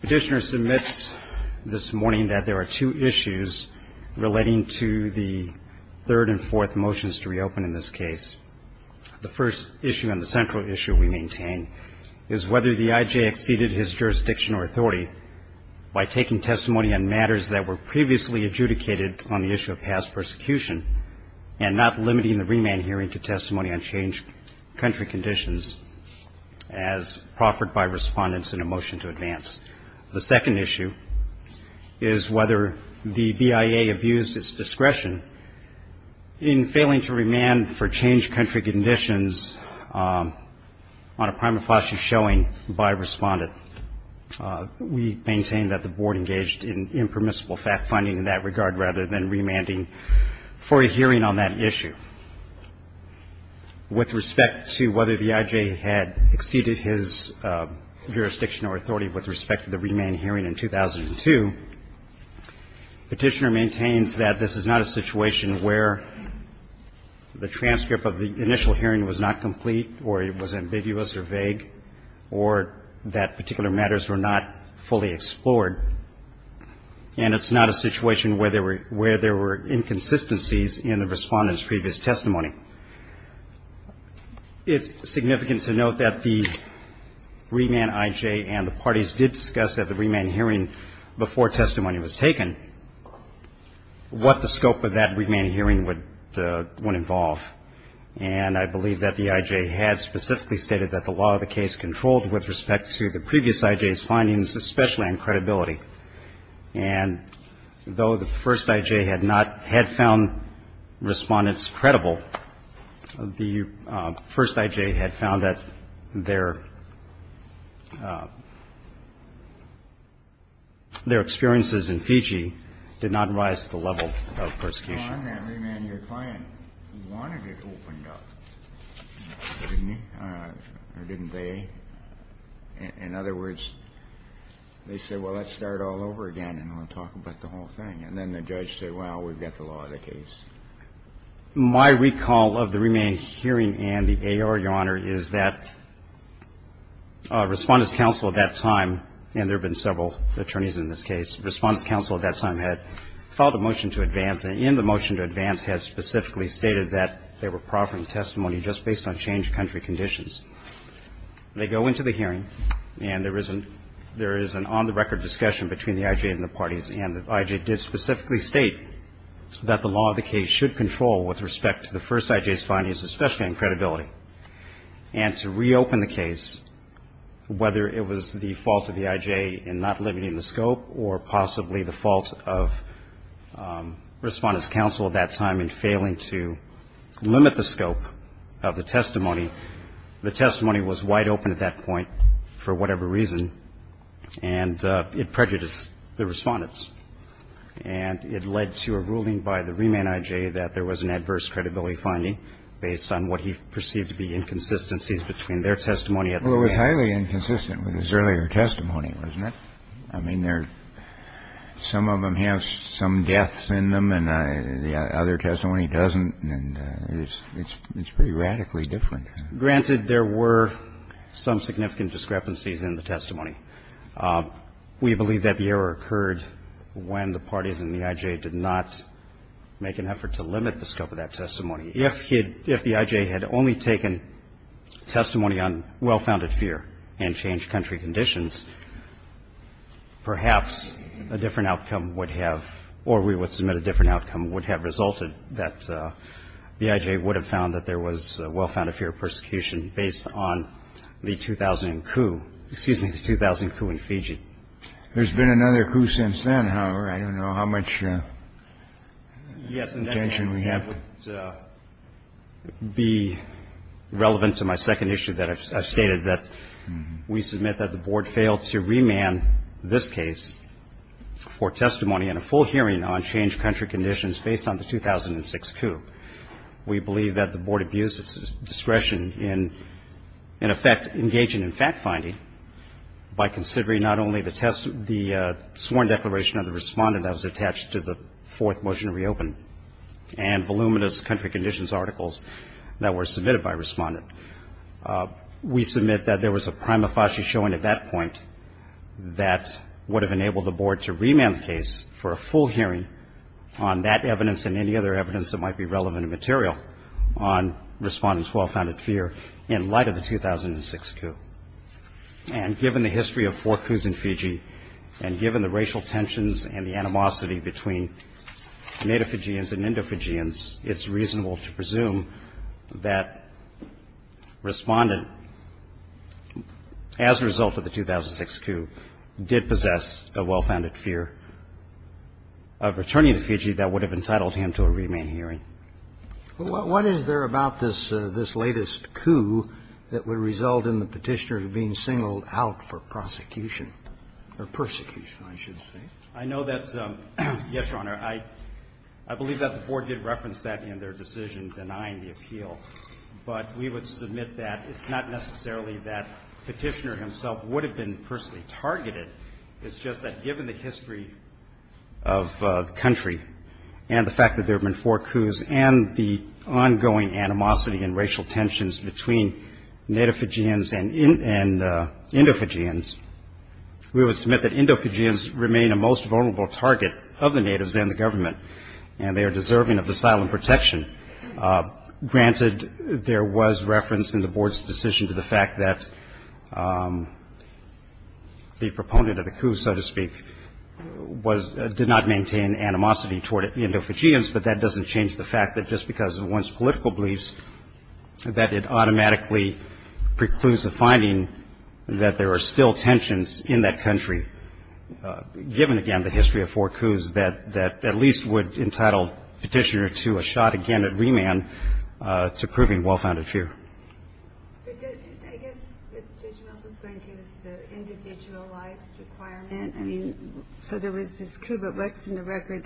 Petitioner submits this morning that there are two issues relating to the third and fourth motions to reopen in this case. The first issue and the central issue we maintain is whether the I.J. exceeded his jurisdiction or authority by taking testimony on matters that were previously adjudicated on the issue of past persecution and not limiting the remand hearing to testimony on changed country conditions as proffered by respondents in a motion to advance. The second issue is whether the BIA abused its discretion in failing to remand for changed country conditions on a prima facie showing by a respondent. We maintain that the Board engaged in impermissible fact-finding in that regard rather than remanding for a hearing on that issue. With respect to whether the I.J. had exceeded his jurisdiction or authority with respect to the remand hearing in 2002, Petitioner maintains that this is not a situation where the transcript of the initial hearing was not complete or it was ambiguous or vague or that particular matters were not fully explored. And it's not a situation where there were inconsistencies in the respondent's previous testimony. It's significant to note that the remand I.J. and the parties did discuss at the remand hearing before testimony was taken what the scope of that remand hearing would involve. And I believe that the I.J. had specifically stated that the law of the case controlled with respect to the previous I.J.'s findings, especially on credibility. And though the first I.J. had not had found respondents credible, the first I.J. had found that their experiences in Fiji did not rise to the level of persecution. In other words, they said, well, let's start all over again and we'll talk about the whole thing. And then the judge said, well, we've got the law of the case. My recall of the remand hearing and the A.R., Your Honor, is that Respondent's counsel at that time, and there have been several attorneys in this case, Respondent's and in the motion to advance had specifically stated that they were proffering testimony just based on change of country conditions. They go into the hearing and there is an on-the-record discussion between the I.J. and the parties. And the I.J. did specifically state that the law of the case should control with respect to the first I.J.'s findings, especially on credibility. And to reopen the case, whether it was the fault of the I.J. in not limiting the scope or possibly the fault of Respondent's counsel at that time in failing to limit the scope of the testimony, the testimony was wide open at that point for whatever reason. And it prejudiced the Respondents. And it led to a ruling by the remand I.J. that there was an adverse credibility finding based on what he perceived to be inconsistencies between their testimony at the hearing. Well, it was highly inconsistent with his earlier testimony, wasn't it? I mean, some of them have some deaths in them and the other testimony doesn't, and it's pretty radically different. Granted, there were some significant discrepancies in the testimony. We believe that the error occurred when the parties and the I.J. did not make an effort to limit the scope of that testimony. If the I.J. had only taken testimony on well-founded fear and changed country conditions, perhaps a different outcome would have, or we would submit a different outcome, would have resulted that the I.J. would have found that there was well-founded fear of persecution based on the 2000 coup, excuse me, the 2000 coup in Fiji. There's been another coup since then, however. I don't know how much tension we have. Yes, and that would be relevant to my second issue that I've stated, that we submit that the Board failed to remand this case for testimony in a full hearing on changed country conditions based on the 2006 coup. We believe that the Board abused its discretion in, in effect, engaging in fact-finding by considering not only the sworn declaration of the Respondent that was attached to the fourth motion to reopen and voluminous country conditions articles that were submitted by Respondent. We submit that there was a prima facie showing at that point that would have enabled the Board to remand the case for a full hearing on that evidence and any other evidence that might be relevant and material on Respondent's well-founded fear in light of the 2006 coup. And given the history of four coups in Fiji, and given the racial tensions and the animosity between Native Fijians and Indo-Fijians, it's reasonable to presume that Respondent, as a result of the 2006 coup, did possess a well-founded fear of returning to Fiji that would have entitled him to a remand hearing. What is there about this latest coup that would result in the Petitioner being singled out for prosecution, or persecution, I should say? I know that's yes, Your Honor. I believe that the Board did reference that in their decision denying the appeal. But we would submit that it's not necessarily that Petitioner himself would have been personally targeted. It's just that given the history of the country and the fact that there have been four coups and the ongoing animosity and racial tensions between Native Fijians and Indo-Fijians, we would submit that Indo-Fijians remain a most vulnerable target of the Natives and the government, and they are deserving of asylum protection. Granted, there was reference in the Board's decision to the fact that the proponent of the coup, so to speak, did not maintain animosity toward Indo-Fijians, but that doesn't change the fact that just because of one's political beliefs, that it automatically precludes the finding that there are still tensions in that country, given, again, the history of four coups, that at least would entitle Petitioner to a shot again at remand to proving well-founded fear. I guess what Judge Mills was going to is the individualized requirement. I mean, so there was this coup, but what's in the record,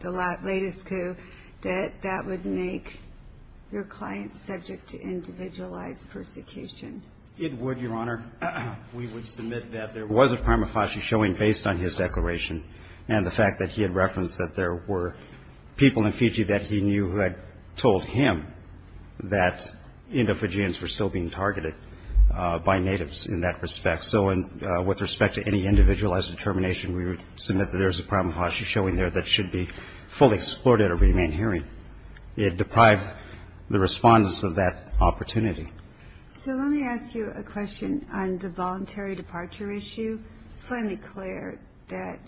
the latest coup, that that would make your client subject to individualized persecution? It would, Your Honor. We would submit that there was a prima facie showing based on his declaration and the fact that he had referenced that there were people in Fiji that he knew who had told him that Indo-Fijians were still being targeted by Natives in that respect. So with respect to any individualized determination, we would submit that there is a prima facie showing there that should be fully explored at a remand hearing. It deprived the respondents of that opportunity. So let me ask you a question on the voluntary departure issue. It's plainly clear that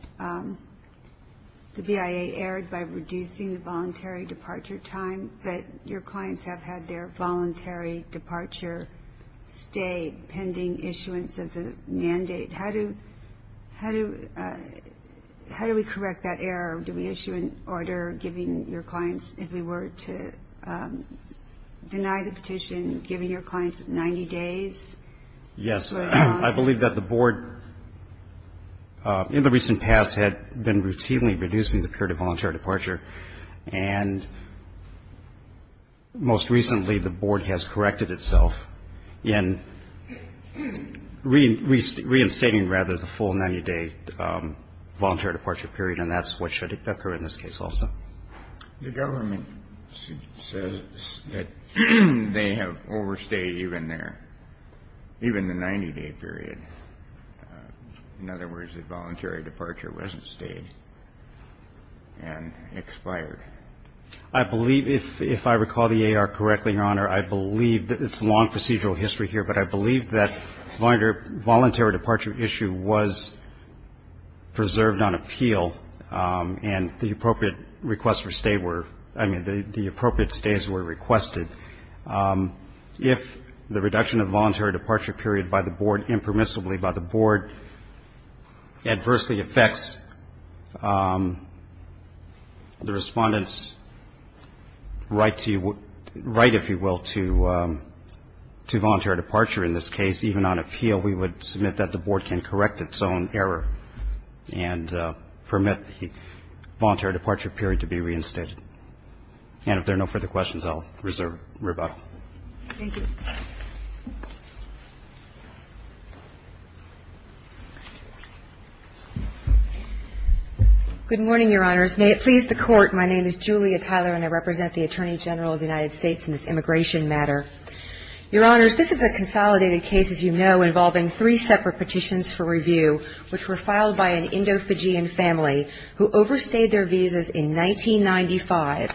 the BIA erred by reducing the voluntary departure time, but your clients have had their voluntary departure stay pending issuance of the mandate. How do we correct that error? Do we issue an order giving your clients, if we were to deny the petition, giving your clients 90 days? Yes. I believe that the Board, in the recent past, had been routinely reducing the period of voluntary departure, and most recently the Board has corrected itself in reinstating, rather, the full 90-day voluntary departure period, and that's what should occur in this case also. The government says that they have overstayed even the 90-day period. In other words, the voluntary departure wasn't stayed and expired. I believe, if I recall the AR correctly, Your Honor, I believe that it's a long procedural history here, but I believe that the voluntary departure issue was preserved on appeal and the appropriate request for stay were, I mean, the appropriate stays were requested. If the reduction of the voluntary departure period by the Board, impermissibly by the Board, adversely affects the Respondent's right, if you will, to voluntary departure in this case, even on appeal, we would submit that the Board can correct its own error and permit the voluntary departure period to be reinstated. And if there are no further questions, I'll reserve rebuttal. Thank you. Good morning, Your Honors. May it please the Court, my name is Julia Tyler, and I represent the Attorney General of the United States in this immigration matter. Your Honors, this is a consolidated case, as you know, involving three separate petitions for review, which were filed by an Indo-Fijian family who overstayed their visas in 1995,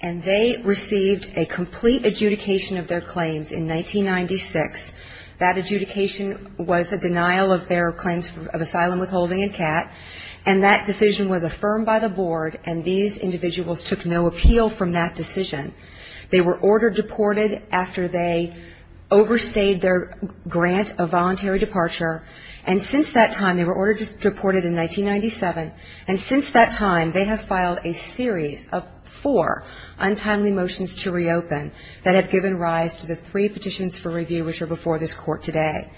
and they received a complete adjudication of their claims in 1996. That adjudication was a denial of their claims of asylum withholding and CAT, and that decision was affirmed by the Board, and these individuals took no appeal from that decision. They were ordered deported after they overstayed their grant of voluntary departure, and since that time, they were ordered deported in 1997, and since that time, they have filed a series of four untimely motions to reopen that have given rise to the three petitions for review which are before this Court today.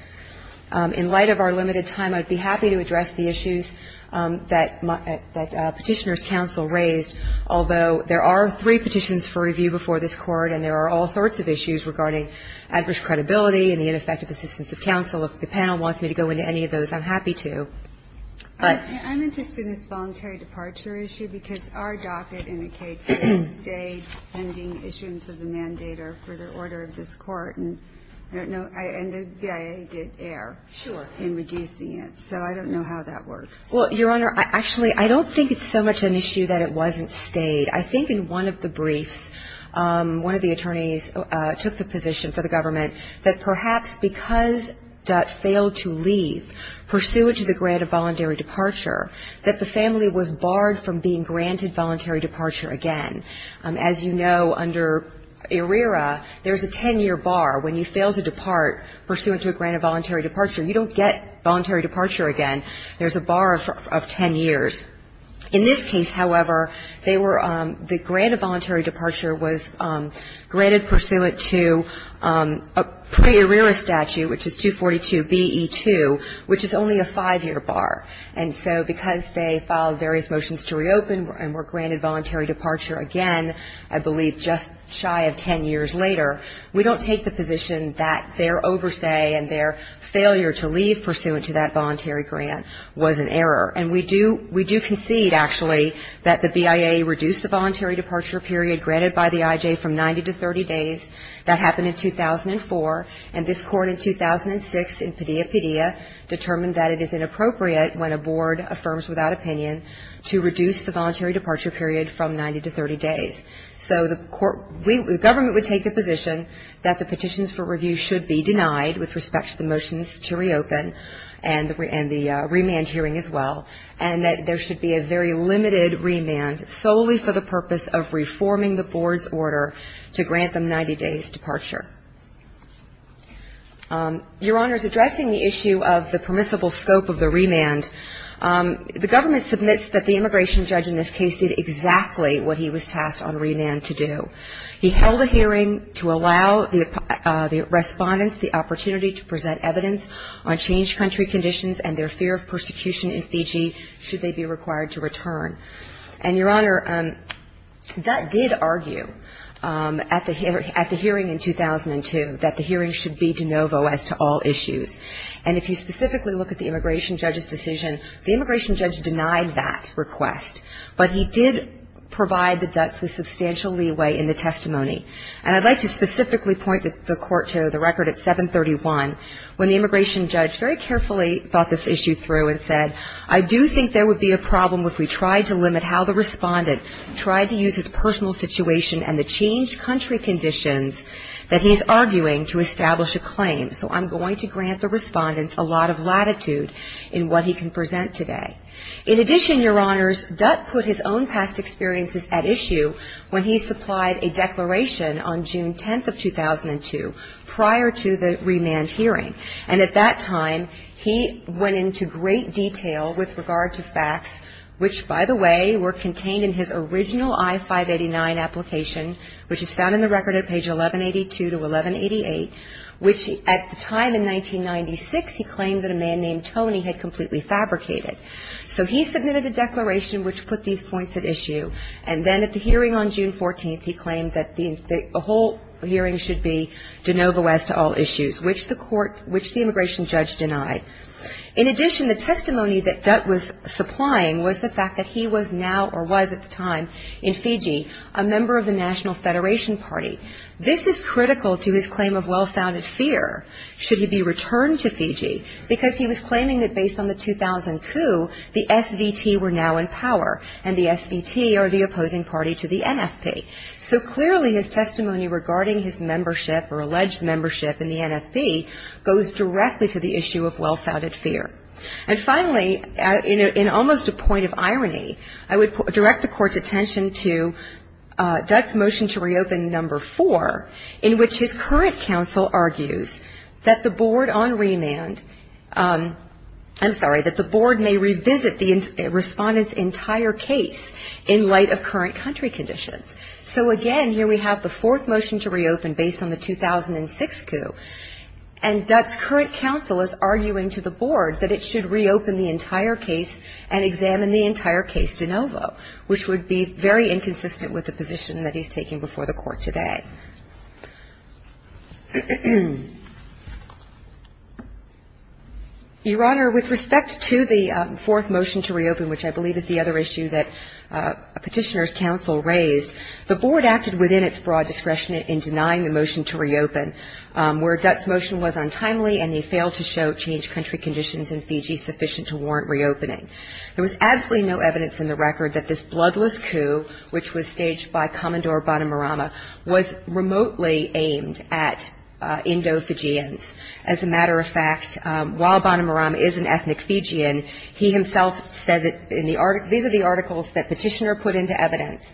In light of our limited time, I would be happy to address the issues that Petitioner's Counsel raised, although there are three petitions for review before this Court, and there are all sorts of issues regarding adverse credibility and the ineffective assistance of counsel. If the panel wants me to go into any of those, I'm happy to. I'm interested in this voluntary departure issue because our docket indicates that it stayed pending issuance of the mandator for the order of this Court, and the BIA did err in reducing it, so I don't know how that works. Well, Your Honor, actually, I don't think it's so much an issue that it wasn't stayed. I think in one of the briefs, one of the attorneys took the position for the government that perhaps because Dutt failed to leave pursuant to the grant of voluntary departure, that the family was barred from being granted voluntary departure again. As you know, under ERIRA, there's a ten-year bar. When you fail to depart pursuant to a grant of voluntary departure, you don't get voluntary departure again. There's a bar of ten years. In this case, however, they were the grant of voluntary departure was granted pursuant to a pre-ERIRA statute, which is 242BE2, which is only a five-year bar. And so because they filed various motions to reopen and were granted voluntary departure again, I believe just shy of ten years later, we don't take the position that their overstay and their failure to leave pursuant to that voluntary grant was an error. And we do concede, actually, that the BIA reduced the voluntary departure period granted by the IJ from 90 to 30 days. That happened in 2004. And this Court in 2006, in Padilla-Padilla, determined that it is inappropriate when a board affirms without opinion to reduce the voluntary departure period from 90 to 30 days. So the government would take the position that the petitions for review should be denied with respect to the motions to reopen and the remand hearing as well, and that there should be a very limited remand solely for the purpose of reforming the board's order to grant them 90 days' departure. Your Honor, addressing the issue of the permissible scope of the remand, the government submits that the immigration judge in this case did exactly what he was tasked on remand to do. He held a hearing to allow the respondents the opportunity to present evidence on changed country conditions and their fear of persecution in Fiji should they be required to return. And, Your Honor, Dutt did argue at the hearing in 2002 that the hearing should be de novo as to all issues. And if you specifically look at the immigration judge's decision, the immigration judge denied that request, but he did provide the Dutts with substantial leeway in the testimony. And I'd like to specifically point the Court to the record at 731 when the immigration judge very carefully thought this issue through and said, I do think there would be a problem if we tried to limit how the respondent tried to use his personal situation and the changed country conditions that he's arguing to establish a claim. So I'm going to grant the respondents a lot of latitude in what he can present today. In addition, Your Honors, Dutt put his own past experiences at issue when he supplied a declaration on June 10th of 2002 prior to the remand hearing. And at that time, he went into great detail with regard to facts, which, by the way, were contained in his original I-589 application, which is found in the record at page 1182 to 1188, which at the time in 1996, he claimed that a man named Tony had completely fabricated. So he submitted a declaration which put these points at issue. And then at the hearing on June 14th, he claimed that the whole hearing should be de novo as to all issues, which the immigration judge denied. In addition, the testimony that Dutt was supplying was the fact that he was now or was at the time in Fiji a member of the National Federation Party. This is critical to his claim of well-founded fear, should he be returned to Fiji, because he was claiming that based on the 2000 coup, the SVT were now in power, and the SVT are the opposing party to the NFP. So clearly his testimony regarding his membership or alleged membership in the NFP goes directly to the issue of well-founded fear. And finally, in almost a point of irony, I would direct the Court's attention to Dutt's motion to reopen No. 4, in which his current counsel argues that the board on remand ‑‑ I'm sorry, that the board may revisit the respondent's entire case in light of current country conditions. So again, here we have the fourth motion to reopen based on the 2006 coup, and Dutt's current counsel is arguing to the board that it should reopen the entire case and examine the entire case de novo, which would be very inconsistent with the position that he's taking before the Court today. Your Honor, with respect to the fourth motion to reopen, which I believe is the other issue that Petitioner's counsel raised, the board acted within its broad discretion in denying the motion to reopen, where Dutt's motion was untimely and he failed to show changed country conditions in Fiji sufficient to warrant reopening. There was absolutely no evidence in the record that this bloodless coup, which was staged by Commodore Bonomarama, was remotely aimed at Indo-Fijians. As a matter of fact, while Bonomarama is an ethnic Fijian, he himself said that in the ‑‑ these are the articles that Petitioner put into evidence.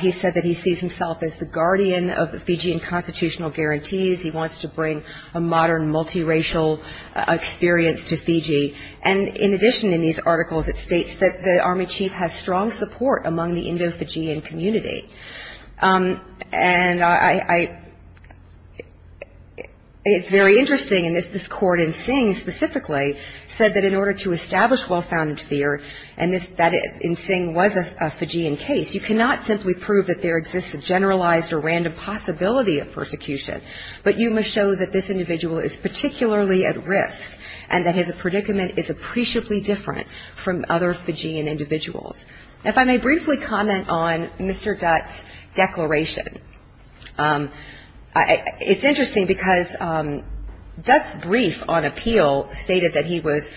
He said that he sees himself as the guardian of the Fijian constitutional guarantees. He wants to bring a modern multiracial experience to Fiji. And in addition in these articles, it states that the Army chief has strong support among the Indo-Fijian community. And I ‑‑ it's very interesting, and this court in Sing specifically said that in order to establish well-founded fear and that in Sing was a Fijian case, you cannot simply prove that there exists a generalized or random possibility of persecution, but you must show that this individual is particularly at risk and that his predicament is appreciably different from other Fijian individuals. If I may briefly comment on Mr. Dutt's declaration. It's interesting because Dutt's brief on appeal stated that he was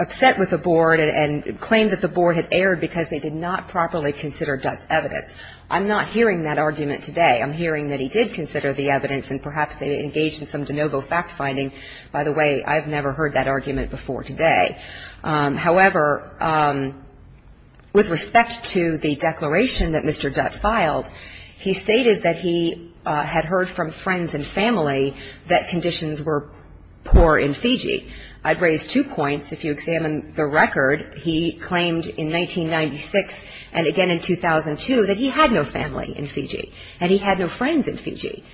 upset with the board and claimed that the board had erred because they did not properly consider Dutt's evidence. I'm not hearing that argument today. I'm hearing that he did consider the evidence and perhaps they engaged in some de novo fact finding. By the way, I've never heard that argument before today. However, with respect to the declaration that Mr. Dutt filed, he stated that he had heard from friends and family that conditions were poor in Fiji. I'd raise two points if you examine the record. He claimed in 1996 and again in 2002 that he had no family in Fiji and he had no friends in Fiji.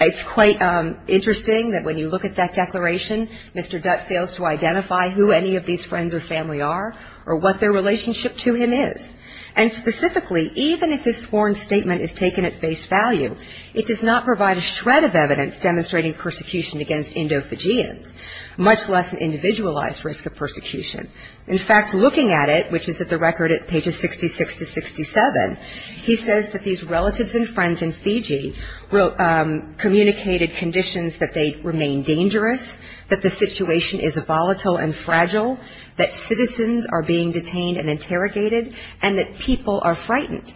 It's quite interesting that when you look at that declaration, Mr. Dutt fails to identify who any of these friends or family are or what their relationship to him is. And specifically, even if his sworn statement is taken at face value, it does not provide a shred of evidence demonstrating persecution against endophagians, much less an individualized risk of persecution. In fact, looking at it, which is at the record at pages 66 to 67, he says that these relatives and friends in Fiji communicated conditions that they remain dangerous, that the situation is volatile and fragile, that citizens are being detained and interrogated, and that people are frightened.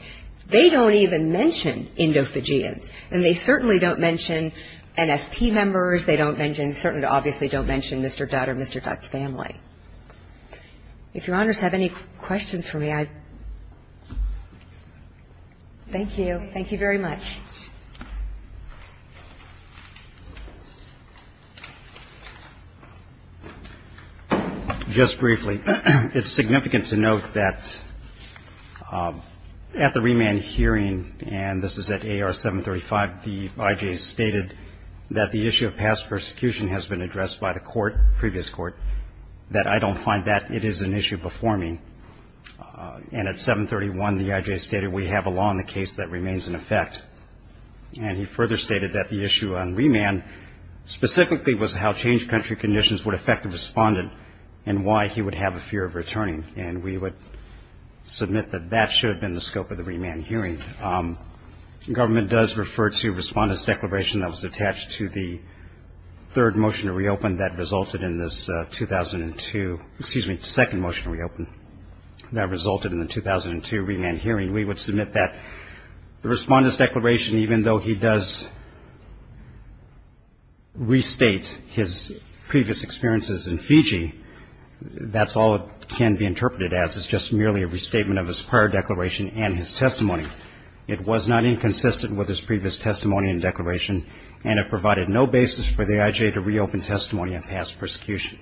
They don't even mention endophagians, and they certainly don't mention NFP members. They don't mention, certainly obviously don't mention Mr. Dutt or Mr. Dutt's family. If Your Honors have any questions for me, I'd thank you. Thank you very much. Just briefly, it's significant to note that at the remand hearing, and this is at AR 735, the I.J. stated that the issue of past persecution has been addressed by the court, previous court, that I don't find that it is an issue before me. And at 731, the I.J. stated we have a law in the case that remains in effect, and he further stated that the issue on remand specifically was how changed country conditions would affect the respondent and why he would have a fear of returning, and we would submit that that should have been the scope of the remand hearing. Government does refer to respondent's declaration that was attached to the third motion to reopen that resulted in the 2002 remand hearing. We would submit that the respondent's declaration, even though he does restate his previous experiences in Fiji, that's all it can be interpreted as is just merely a restatement of his prior declaration and his testimony. It was not inconsistent with his previous testimony and declaration, and it provided no basis for the I.J. to reopen testimony on past persecution.